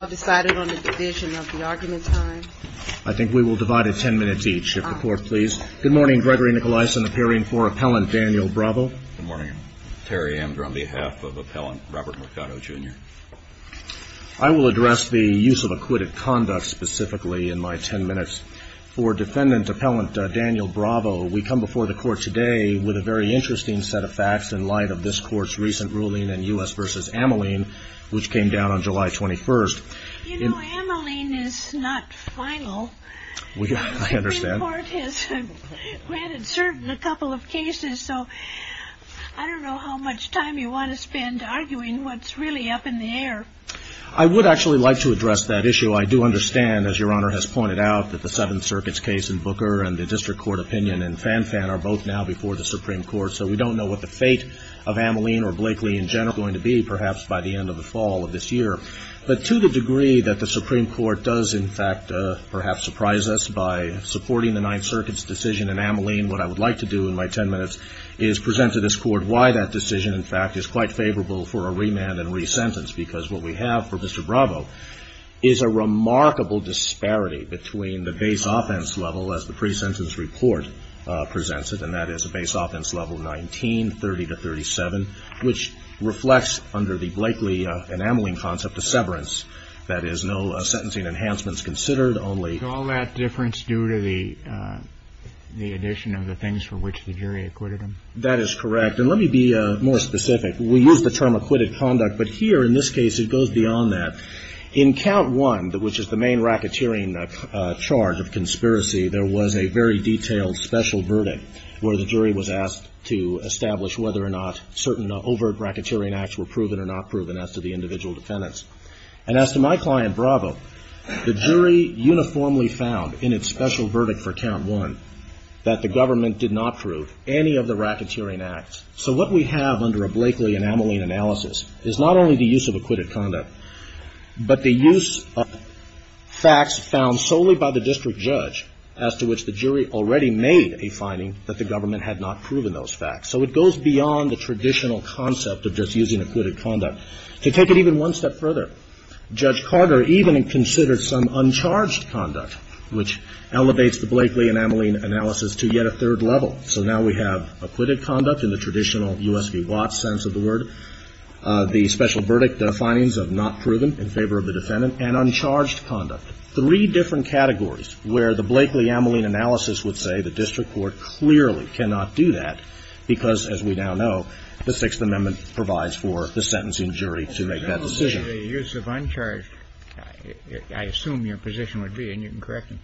I will address the use of acquitted conduct specifically in my ten minutes. For defendant appellant Daniel Bravo, we come before the court today with a very interesting set of facts in light of this court's recent ruling in U.S. v. Ameline, which came down on July 21st. You know, Ameline is not final. The Supreme Court has granted certain a couple of cases, so I don't know how much time you want to spend arguing what's really up in the air. I would actually like to address that issue. I do understand, as Your Honor has pointed out, that the Seventh Circuit's case in Booker and the District Court opinion in Fanfan are both now before the Supreme Court, so we don't know what the fate of Ameline or Blakely in general is going to be, perhaps, by the end of the fall of this year. But to the degree that the Supreme Court does, in fact, perhaps surprise us by supporting the Ninth Circuit's decision in Ameline, what I would like to do in my ten minutes is present to this court why that decision, in fact, is quite favorable for a remand and re-sentence, because what we have for Mr. Bravo is a remarkable disparity between the base offense level, as which reflects under the Blakely and Ameline concept of severance. That is, no sentencing enhancements considered, only — All that difference due to the addition of the things for which the jury acquitted him? That is correct. And let me be more specific. We use the term acquitted conduct, but here in this case it goes beyond that. In count one, which is the main racketeering charge of conspiracy, there was a very detailed special verdict where the jury was asked to establish whether or not certain overt racketeering acts were proven or not proven as to the individual defendants. And as to my client, Bravo, the jury uniformly found in its special verdict for count one that the government did not prove any of the racketeering acts. So what we have under a Blakely and Ameline analysis is not only the use of acquitted conduct, but the use of facts found solely by the district judge, as to which the jury already made a So it goes beyond the traditional concept of just using acquitted conduct. To take it even one step further, Judge Carter even considered some uncharged conduct, which elevates the Blakely and Ameline analysis to yet a third level. So now we have acquitted conduct in the traditional U.S. v. Watts sense of the word, the special verdict findings of not proven in favor of the defendant, and uncharged conduct. Three different categories where the Blakely-Ameline analysis would say the district court clearly cannot do that because, as we now know, the Sixth Amendment provides for the sentencing jury to make that decision. The use of uncharged, I assume your position would be, and you can correct me,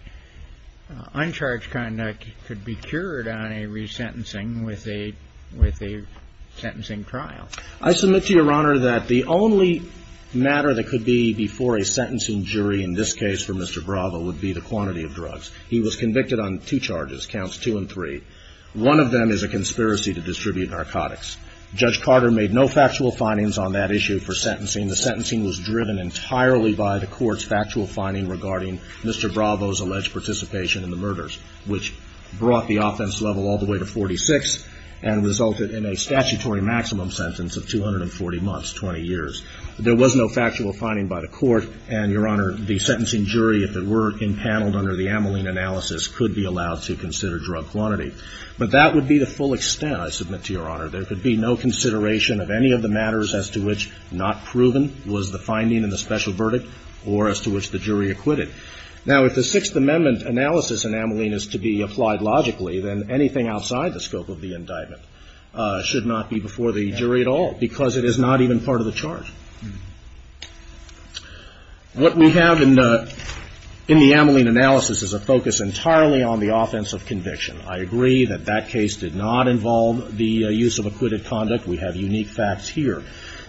uncharged conduct could be cured on a resentencing with a, with a sentencing trial. I submit to Your Honor that the only matter that could be before a sentencing jury in this case for Mr. Bravo would be the quantity of drugs. He was convicted on two charges, counts two and three. One of them is a conspiracy to distribute narcotics. Judge Carter made no factual findings on that issue for sentencing. The sentencing was driven entirely by the court's factual finding regarding Mr. Bravo's alleged participation in the murders, which brought the offense level all the way to 46 and resulted in a statutory maximum sentence of 240 months, 20 years. There was no factual finding by the court, and, Your Honor, the sentencing jury, if it were allowed to consider drug quantity. But that would be the full extent, I submit to Your Honor. There could be no consideration of any of the matters as to which not proven was the finding in the special verdict or as to which the jury acquitted. Now, if the Sixth Amendment analysis in Ameline is to be applied logically, then anything outside the scope of the indictment should not be before the jury at all because it is not even part of the charge. What we have in the Ameline analysis is a focus entirely on the offense of conviction. I agree that that case did not involve the use of acquitted conduct. We have unique facts here.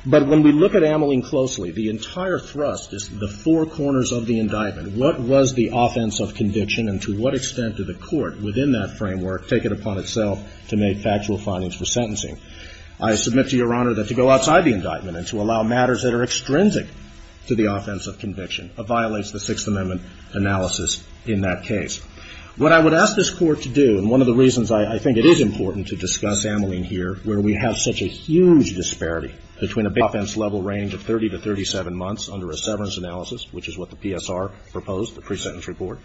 But when we look at Ameline closely, the entire thrust is the four corners of the indictment. What was the offense of conviction, and to what extent did the court within that framework take it upon itself to make factual findings for sentencing? I submit to Your Honor that to go outside the indictment and to allow matters to be made, to allow matters that are extrinsic to the offense of conviction, violates the Sixth Amendment analysis in that case. What I would ask this Court to do, and one of the reasons I think it is important to discuss Ameline here, where we have such a huge disparity between a big offense level range of 30 to 37 months under a severance analysis, which is what the PSR proposed, the pre-sentence report,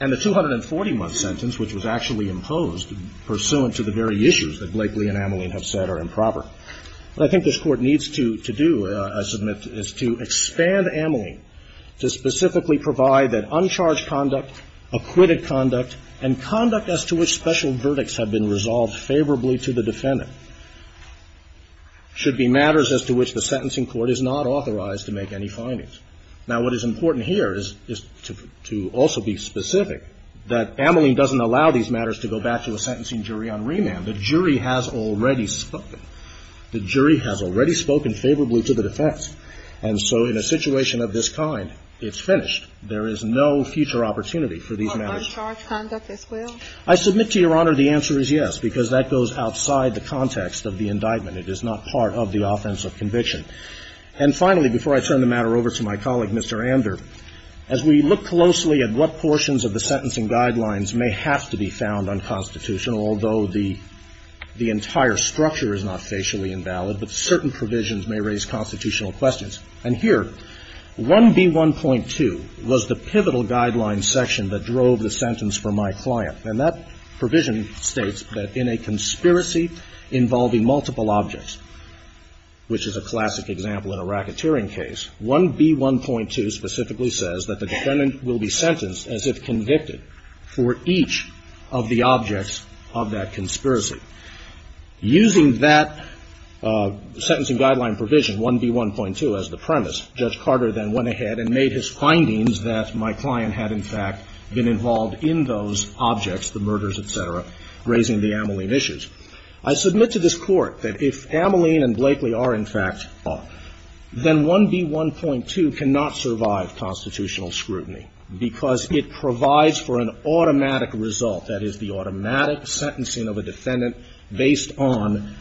and the 240-month sentence, which was actually imposed pursuant to the very issues that Blakely and Ameline have said are improper. What I think this Court needs to do, I submit, is to expand Ameline to specifically provide that uncharged conduct, acquitted conduct, and conduct as to which special verdicts have been resolved favorably to the defendant should be matters as to which the sentencing court is not authorized to make any findings. Now, what is important here is to also be specific that Ameline doesn't allow these kinds of situations. The jury has already spoken. The jury has already spoken favorably to the defense. And so in a situation of this kind, it's finished. There is no future opportunity for these matters. I submit to Your Honor, the answer is yes, because that goes outside the context of the indictment. It is not part of the offense of conviction. And finally, before I turn the matter over to my colleague, Mr. Ander, as we look closely at what portions of the sentencing guidelines may have to be found unconstitutional, although the entire structure is not facially invalid, but certain provisions may raise constitutional questions. And here, 1B1.2 was the pivotal guideline section that drove the sentence for my client. And that provision states that in a conspiracy involving multiple objects, which is a classic example in a racketeering case, 1B1.2 specifically says that the defendant will be sentenced as if convicted for each of the objects of that conspiracy. Using that sentencing guideline provision, 1B1.2, as the premise, Judge Carter then went ahead and made his findings that my client had, in fact, been involved in those objects, the murders, et cetera, raising the Ameline issues. I submit to this Court that if Ameline and Blakely are, in fact, involved, then 1B1.2 cannot survive constitutional scrutiny, because it provides for an automatic result, that is, the automatic sentencing of a defendant based on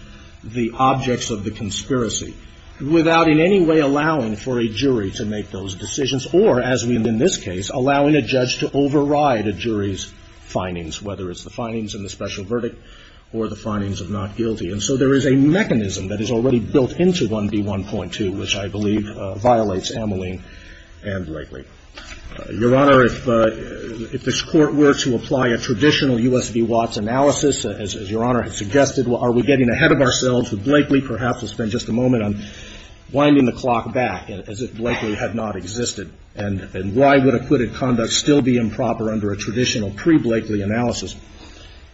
the objects of the conspiracy, without in any way allowing for a jury to make those decisions, or, as we did in this case, allowing a judge to override a jury's findings, whether it's the findings in the special verdict or the findings of not guilty. And so there is a mechanism that is already built into 1B1.2, which I believe violates Ameline and Blakely. Your Honor, if this Court were to apply a traditional U.S. v. Watts analysis, as your Honor had suggested, are we getting ahead of ourselves with Blakely? Perhaps we'll spend just a moment on winding the clock back, as if Blakely had not existed, and why would acquitted conduct still be improper under a traditional pre-Blakely analysis.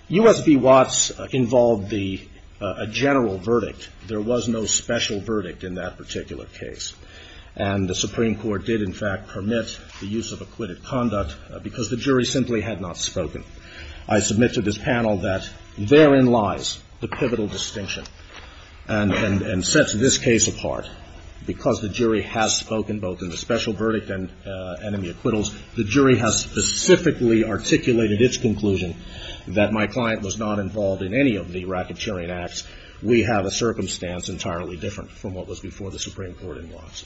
U.S. v. Watts involved a general verdict. There was no special verdict in that particular case. And the Supreme Court did, in fact, permit the use of acquitted conduct, because the jury simply had not spoken. I submit to this panel that therein lies the pivotal distinction, and sets this case apart. Because the jury has spoken, both in the special verdict and in the acquittals, the jury has specifically articulated its conclusion that my client was not involved in any of the racketeering acts. We have a circumstance entirely different from what was before the Supreme Court in Watts.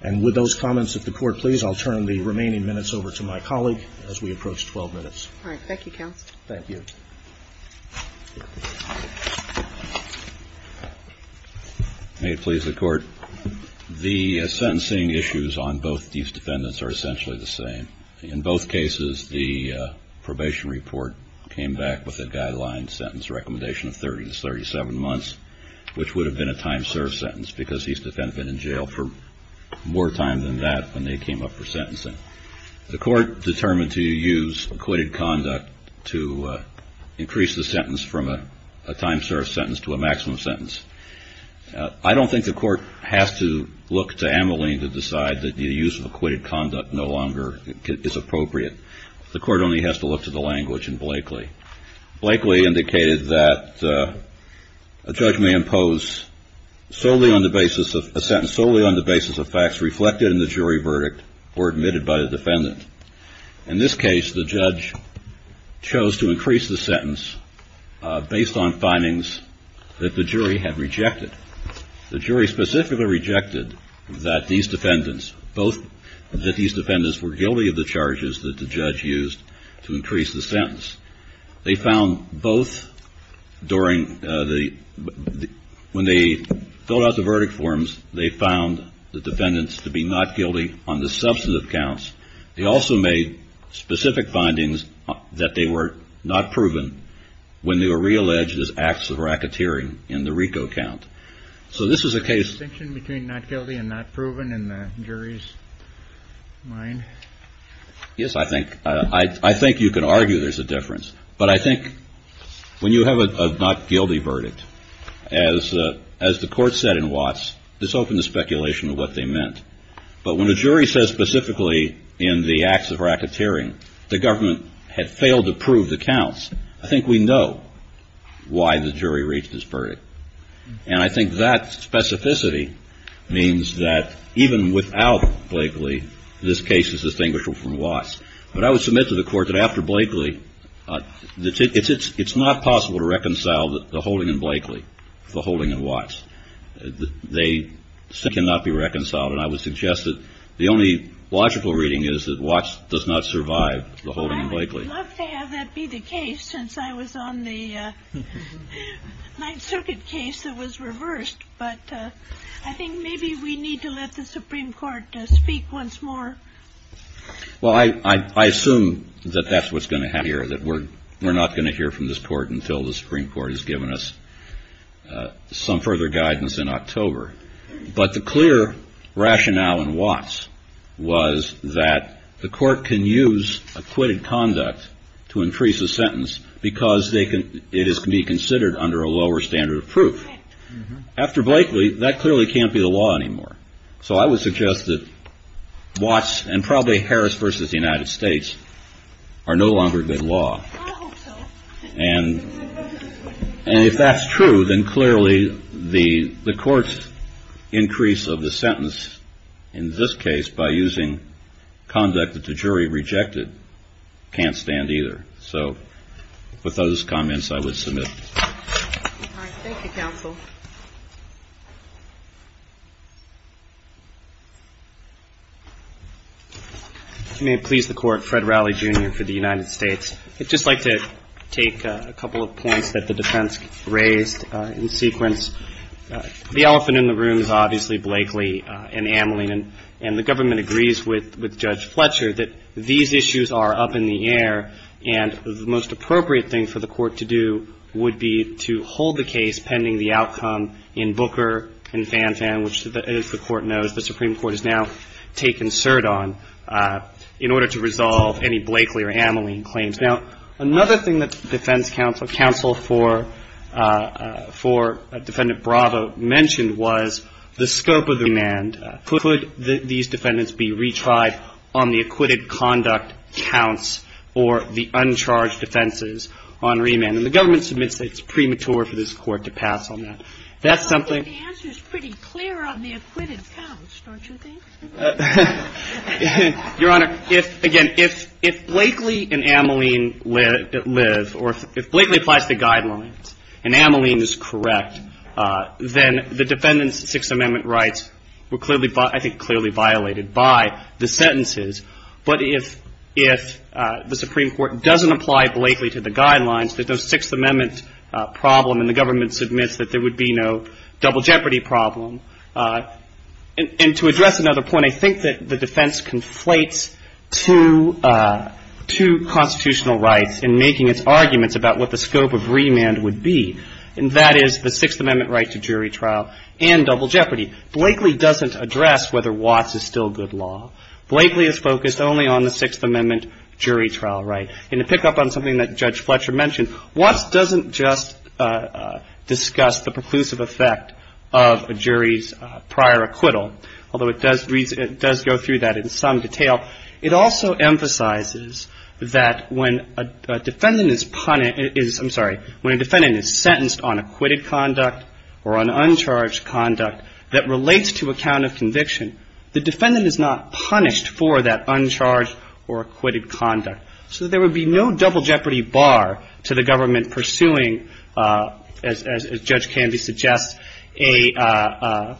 And with those comments of the Court, please, I'll turn the remaining minutes over to my colleague, as we approach 12 minutes. All right. Thank you, Counsel. Thank you. May it please the Court. The sentencing issues on both these defendants are essentially the same. In both cases, the probation report came back with a guideline sentence recommendation of 30 to 37 months, which would have been a time served sentence, because these defendants had been in jail for more time than that when they came up for sentencing. The Court determined to use acquitted conduct to increase the sentence from a time served sentence to a maximum sentence. I don't think the Court has to look to Ameline to decide that the use of acquitted conduct no longer is appropriate. The Court only has to look to the language in Blakely. Blakely indicated that a judge may impose a sentence solely on the basis of facts reflected in the jury verdict or admitted by the defendant. In this case, the judge chose to increase the sentence based on findings that the jury had rejected. The jury specifically rejected that these defendants were guilty of the charges that the judge used to increase the sentence. They found both during the... When they filled out the verdict forms, they found the defendants to be not guilty on the substantive counts. They also made specific findings that they were not proven when they were realleged as acts of racketeering in the RICO count. So this is a case... Is there a distinction between not guilty and not proven in the jury's mind? Yes, I think you can argue there's a difference. But I think when you have a not guilty verdict, as the Court said in Watts, this opened the speculation of what they meant. But when a jury says specifically in the acts of racketeering the government had failed to prove the counts, I think we know why the jury reached this verdict. And I think that specificity means that even without Blakely, this case is a distinguished one from Watts. But I would submit to the Court that after Blakely, it's not possible to reconcile the holding in Blakely, the holding in Watts. They cannot be reconciled. And I would suggest that the only logical reading is that Watts does not survive the holding in Blakely. I would love to have that be the case since I was on the Ninth Circuit case that was reversed. But I think maybe we need to let the Supreme Court speak once more. Well, I assume that that's what's going to happen here, that we're not going to hear from this Court until the Supreme Court has given us some further guidance in October. But the clear rationale in Watts was that the Court can use acquitted conduct to entice a sentence because it can be considered under a lower standard of proof. After Blakely, that clearly can't be the law anymore. So I would suggest that Watts and probably Harris v. United States are no longer good law. I hope so. And if that's true, then clearly the Court's increase of the sentence in this case by using conduct that the jury rejected can't stand either. So with those comments, I would submit. All right. Thank you, Counsel. If you may please the Court, Fred Rowley, Jr. for the United States. I'd just like to take a couple of points that the defense raised in sequence. The elephant in the room is obviously Blakely and Ameline. And the government agrees with Judge Fletcher that these issues are up in the air and the most appropriate thing for the Court to do would be to hold the case pending the outcome in Booker and Fanfan, which the Court knows the Supreme Court has now taken cert on, in order to resolve any Blakely or Ameline claims. Now, another thing that the defense counsel for Defendant Bravo mentioned was the scope of the remand. Could these defendants be retried on the acquitted conduct counts or the uncharged defenses on remand? And the government submits that it's premature for this Court to pass on that. That's something. Well, I think the answer is pretty clear on the acquitted counts, don't you think? Your Honor, if, again, if Blakely and Ameline live or if Blakely applies the guidelines and Ameline is correct, then the defendant's Sixth Amendment rights were clearly, I think, clearly violated by the sentences. But if the Supreme Court doesn't apply Blakely to the guidelines, there's no Sixth Amendment problem and the government submits that there would be no double jeopardy problem. And to address another point, I think that the defense conflates two constitutional rights in making its arguments about what the scope of remand would be, and that is the Sixth Amendment right to jury trial and double jeopardy. Blakely doesn't address whether Watts is still good law. Blakely is focused only on the Sixth Amendment jury trial right. And to pick up on something that Judge Fletcher mentioned, Watts doesn't just discuss the preclusive effect of a jury's prior acquittal, although it does go through that in some detail. It also emphasizes that when a defendant is, I'm sorry, when a defendant is sentenced on acquitted conduct or on uncharged conduct that relates to a count of conviction, the defendant is not punished for that uncharged or acquitted conduct. So there would be no double jeopardy bar to the government pursuing, as Judge Candy suggests, a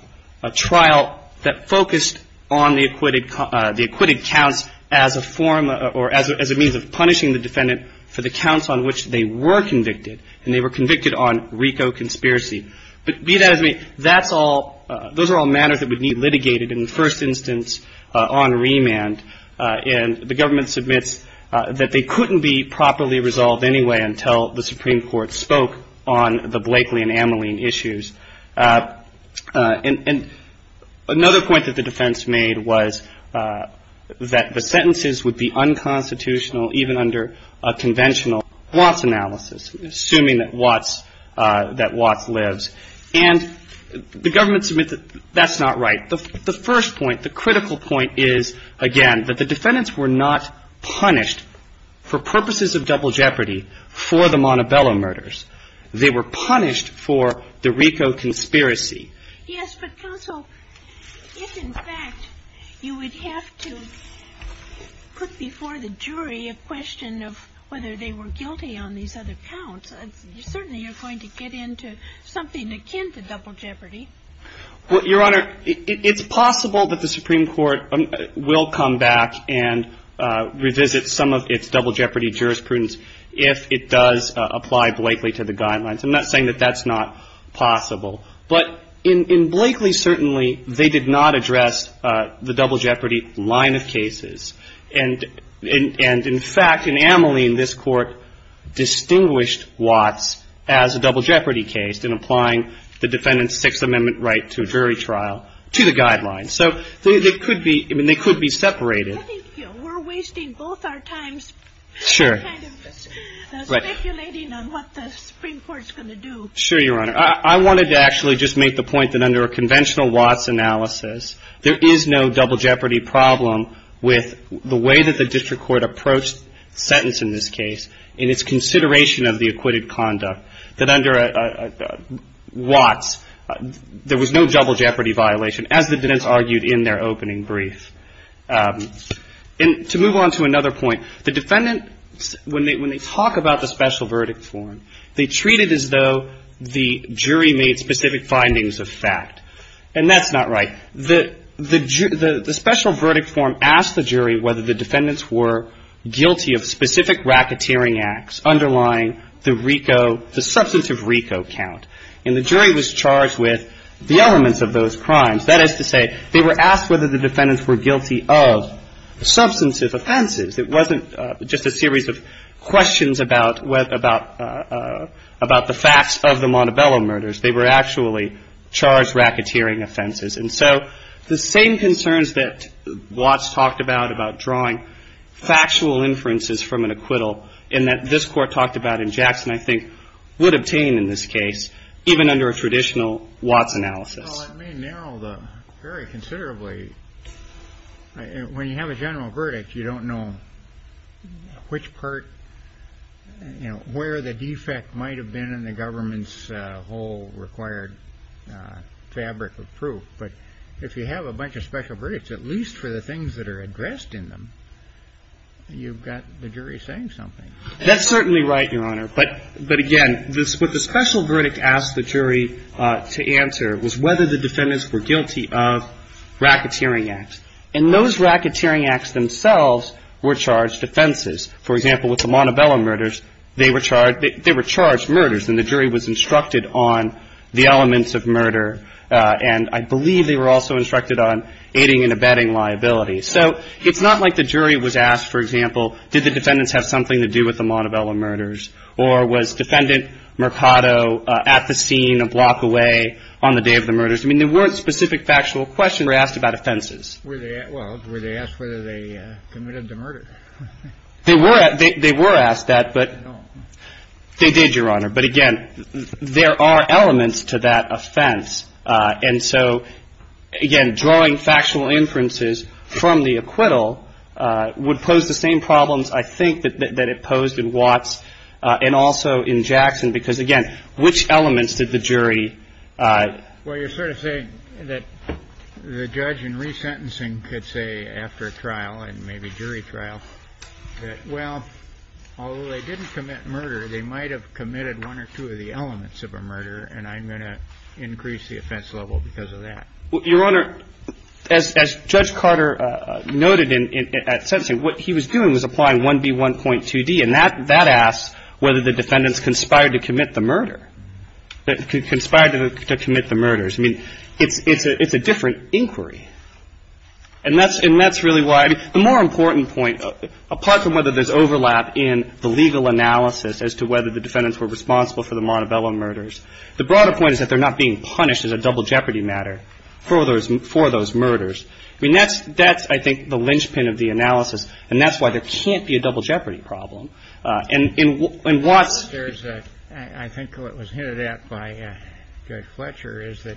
trial that focused on the acquitted counts as a form or as a means of punishing the defendant for the counts on which they were convicted. And they were convicted on RICO conspiracy. But be that as it may, that's all, those are all matters that would be litigated in the first instance on remand. And the government submits that they couldn't be properly resolved anyway until the Supreme Court spoke on the Blakely and Amoline issues. And another point that the defense made was that the sentences would be unconstitutional even under a conventional Watts analysis, assuming that Watts lives. And the government submits that that's not right. The first point, the critical point is, again, that the defendants were not punished for purposes of double jeopardy for the Montebello murders. They were punished for the RICO conspiracy. Yes, but counsel, if in fact you would have to put before the jury a question of whether they were guilty on these other counts, certainly you're going to get into something akin to double jeopardy. Your Honor, it's possible that the Supreme Court will come back and revisit some of its double jeopardy jurisprudence if it does apply Blakely to the guidelines. I'm not saying that that's not possible. But in Blakely, certainly, they did not address the double jeopardy line of cases. And in fact, in Amoline, this Court distinguished Watts as a double jeopardy case in applying the defendant's Sixth Amendment right to a jury trial to the guidelines. So they could be separated. I think we're wasting both our times kind of speculating on what the Supreme Court's going to do. Sure, Your Honor. I wanted to actually just make the point that under a conventional Watts analysis, there is no double jeopardy problem with the way that the district court approached the sentence in this case in its consideration of the acquitted conduct. That under Watts, there was no double jeopardy violation, as the defendants argued in their opening brief. And to move on to another point, the defendants, when they talk about the special verdict form, they treat it as though the jury made specific findings of fact. And that's not right. The special verdict form asked the jury whether the defendants were guilty of specific racketeering acts underlying the RICO, the substantive RICO count. And the jury was charged with the elements of those crimes. That is to say, they were asked whether the defendants were guilty of substantive offenses. It wasn't just a series of questions about the facts of the Montebello murders. They were actually charged racketeering offenses. And so the same concerns that Watts talked about, about drawing factual inferences from an acquittal, and that this Court talked about in Jackson, I think, would obtain in this case even under a traditional Watts analysis. Well, it may narrow them very considerably. When you have a general verdict, you don't know which part, you know, where the defect might have been in the government's whole required fabric of proof. But if you have a bunch of special verdicts, at least for the things that are addressed in them, you've got the jury saying something. That's certainly right, Your Honor. But again, what the special verdict asked the jury to answer was whether the defendants were guilty of racketeering acts. And those racketeering acts themselves were charged offenses. For example, with the Montebello murders, they were charged murders. And the jury was instructed on the elements of murder. And I believe they were also instructed on aiding and abetting liabilities. So it's not like the jury was asked, for example, did the defendants have something to do with the Montebello murders? Or was Defendant Mercado at the scene a block away on the day of the murders? I mean, there weren't specific factual questions asked about offenses. Well, were they asked whether they committed the murder? They were asked that, but they did, Your Honor. But again, there are elements to that offense. And so, again, drawing factual inferences from the acquittal would pose the same problems, I think, that it posed in Watts and also in Jackson, because, again, which elements did the jury Well, you're sort of saying that the judge in resentencing could say after a trial and maybe jury trial that, well, although they didn't commit murder, they might have committed one or two of the elements of a murder. And I'm going to increase the offense level because of that. Well, Your Honor, as Judge Carter noted at sentencing, what he was doing was applying 1B1.2D. And that asks whether the defendants conspired to commit the murder, conspired to commit the murders. I mean, it's a different inquiry. And that's really why the more important point, apart from whether there's overlap in the legal analysis as to whether the defendants were responsible for the Montebello murders, the broader point is that they're not being punished as a double jeopardy matter for those murders. I mean, that's, I think, the linchpin of the analysis, and that's why there can't be a double jeopardy problem. And what's... I think what was hinted at by Judge Fletcher is that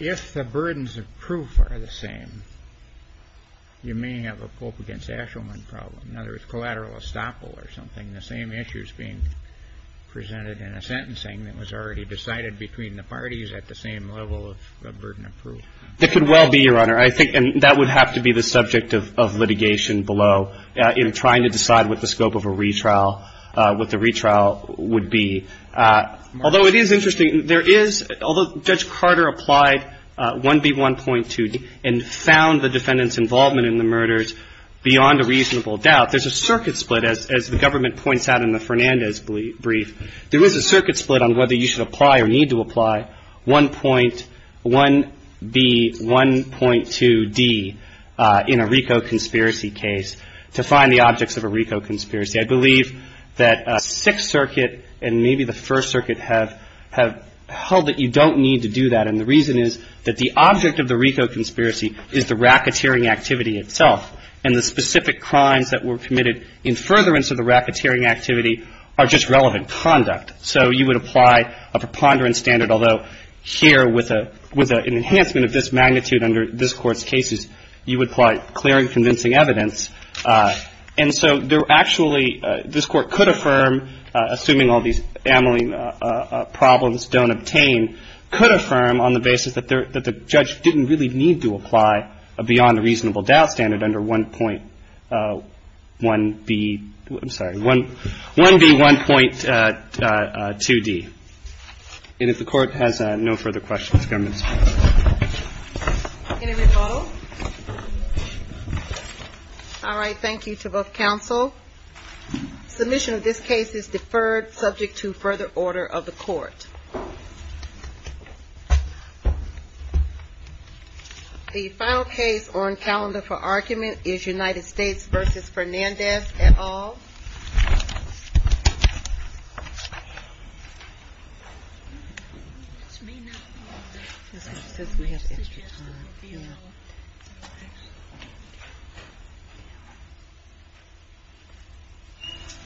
if the burdens of proof are the same, you may have a Pope against Ashelman problem, in other words, collateral estoppel or something, the same issues being presented in a sentencing that was already decided between the parties at the same level of burden of proof. That could well be, Your Honor. I think that would have to be the subject of litigation below, in trying to decide what the scope of a retrial, what the retrial would be. Although it is interesting, there is... Although Judge Carter applied 1B1.2 and found the defendants' involvement in the murders beyond a reasonable doubt, there's a circuit split, as the government points out in the Fernandez brief. There is a circuit split on whether you should apply or need to apply 1.1B1.2D in a RICO conspiracy case to find the objects of a RICO conspiracy. I believe that Sixth Circuit and maybe the First Circuit have held that you don't need to do that. And the reason is that the object of the RICO conspiracy is the racketeering activity itself. And the specific crimes that were committed in furtherance of the racketeering activity are just relevant conduct. So you would apply a preponderance standard, although here with an enhancement of this magnitude under this Court's cases, you would apply clear and convincing evidence. And so there actually... This Court could affirm, assuming all these amyling problems don't obtain, could affirm on the basis that the judge didn't really need to apply a beyond a reasonable doubt standard under 1.1B... I'm sorry, 1B1.2D. And if the Court has no further questions, Governor Ginsburg. Any rebuttal? All right, thank you to both counsel. Submission of this case is deferred, subject to further order of the Court. The final case on calendar for argument is United States v. Fernandez et al. It's me now. She says we have extra time. Yeah.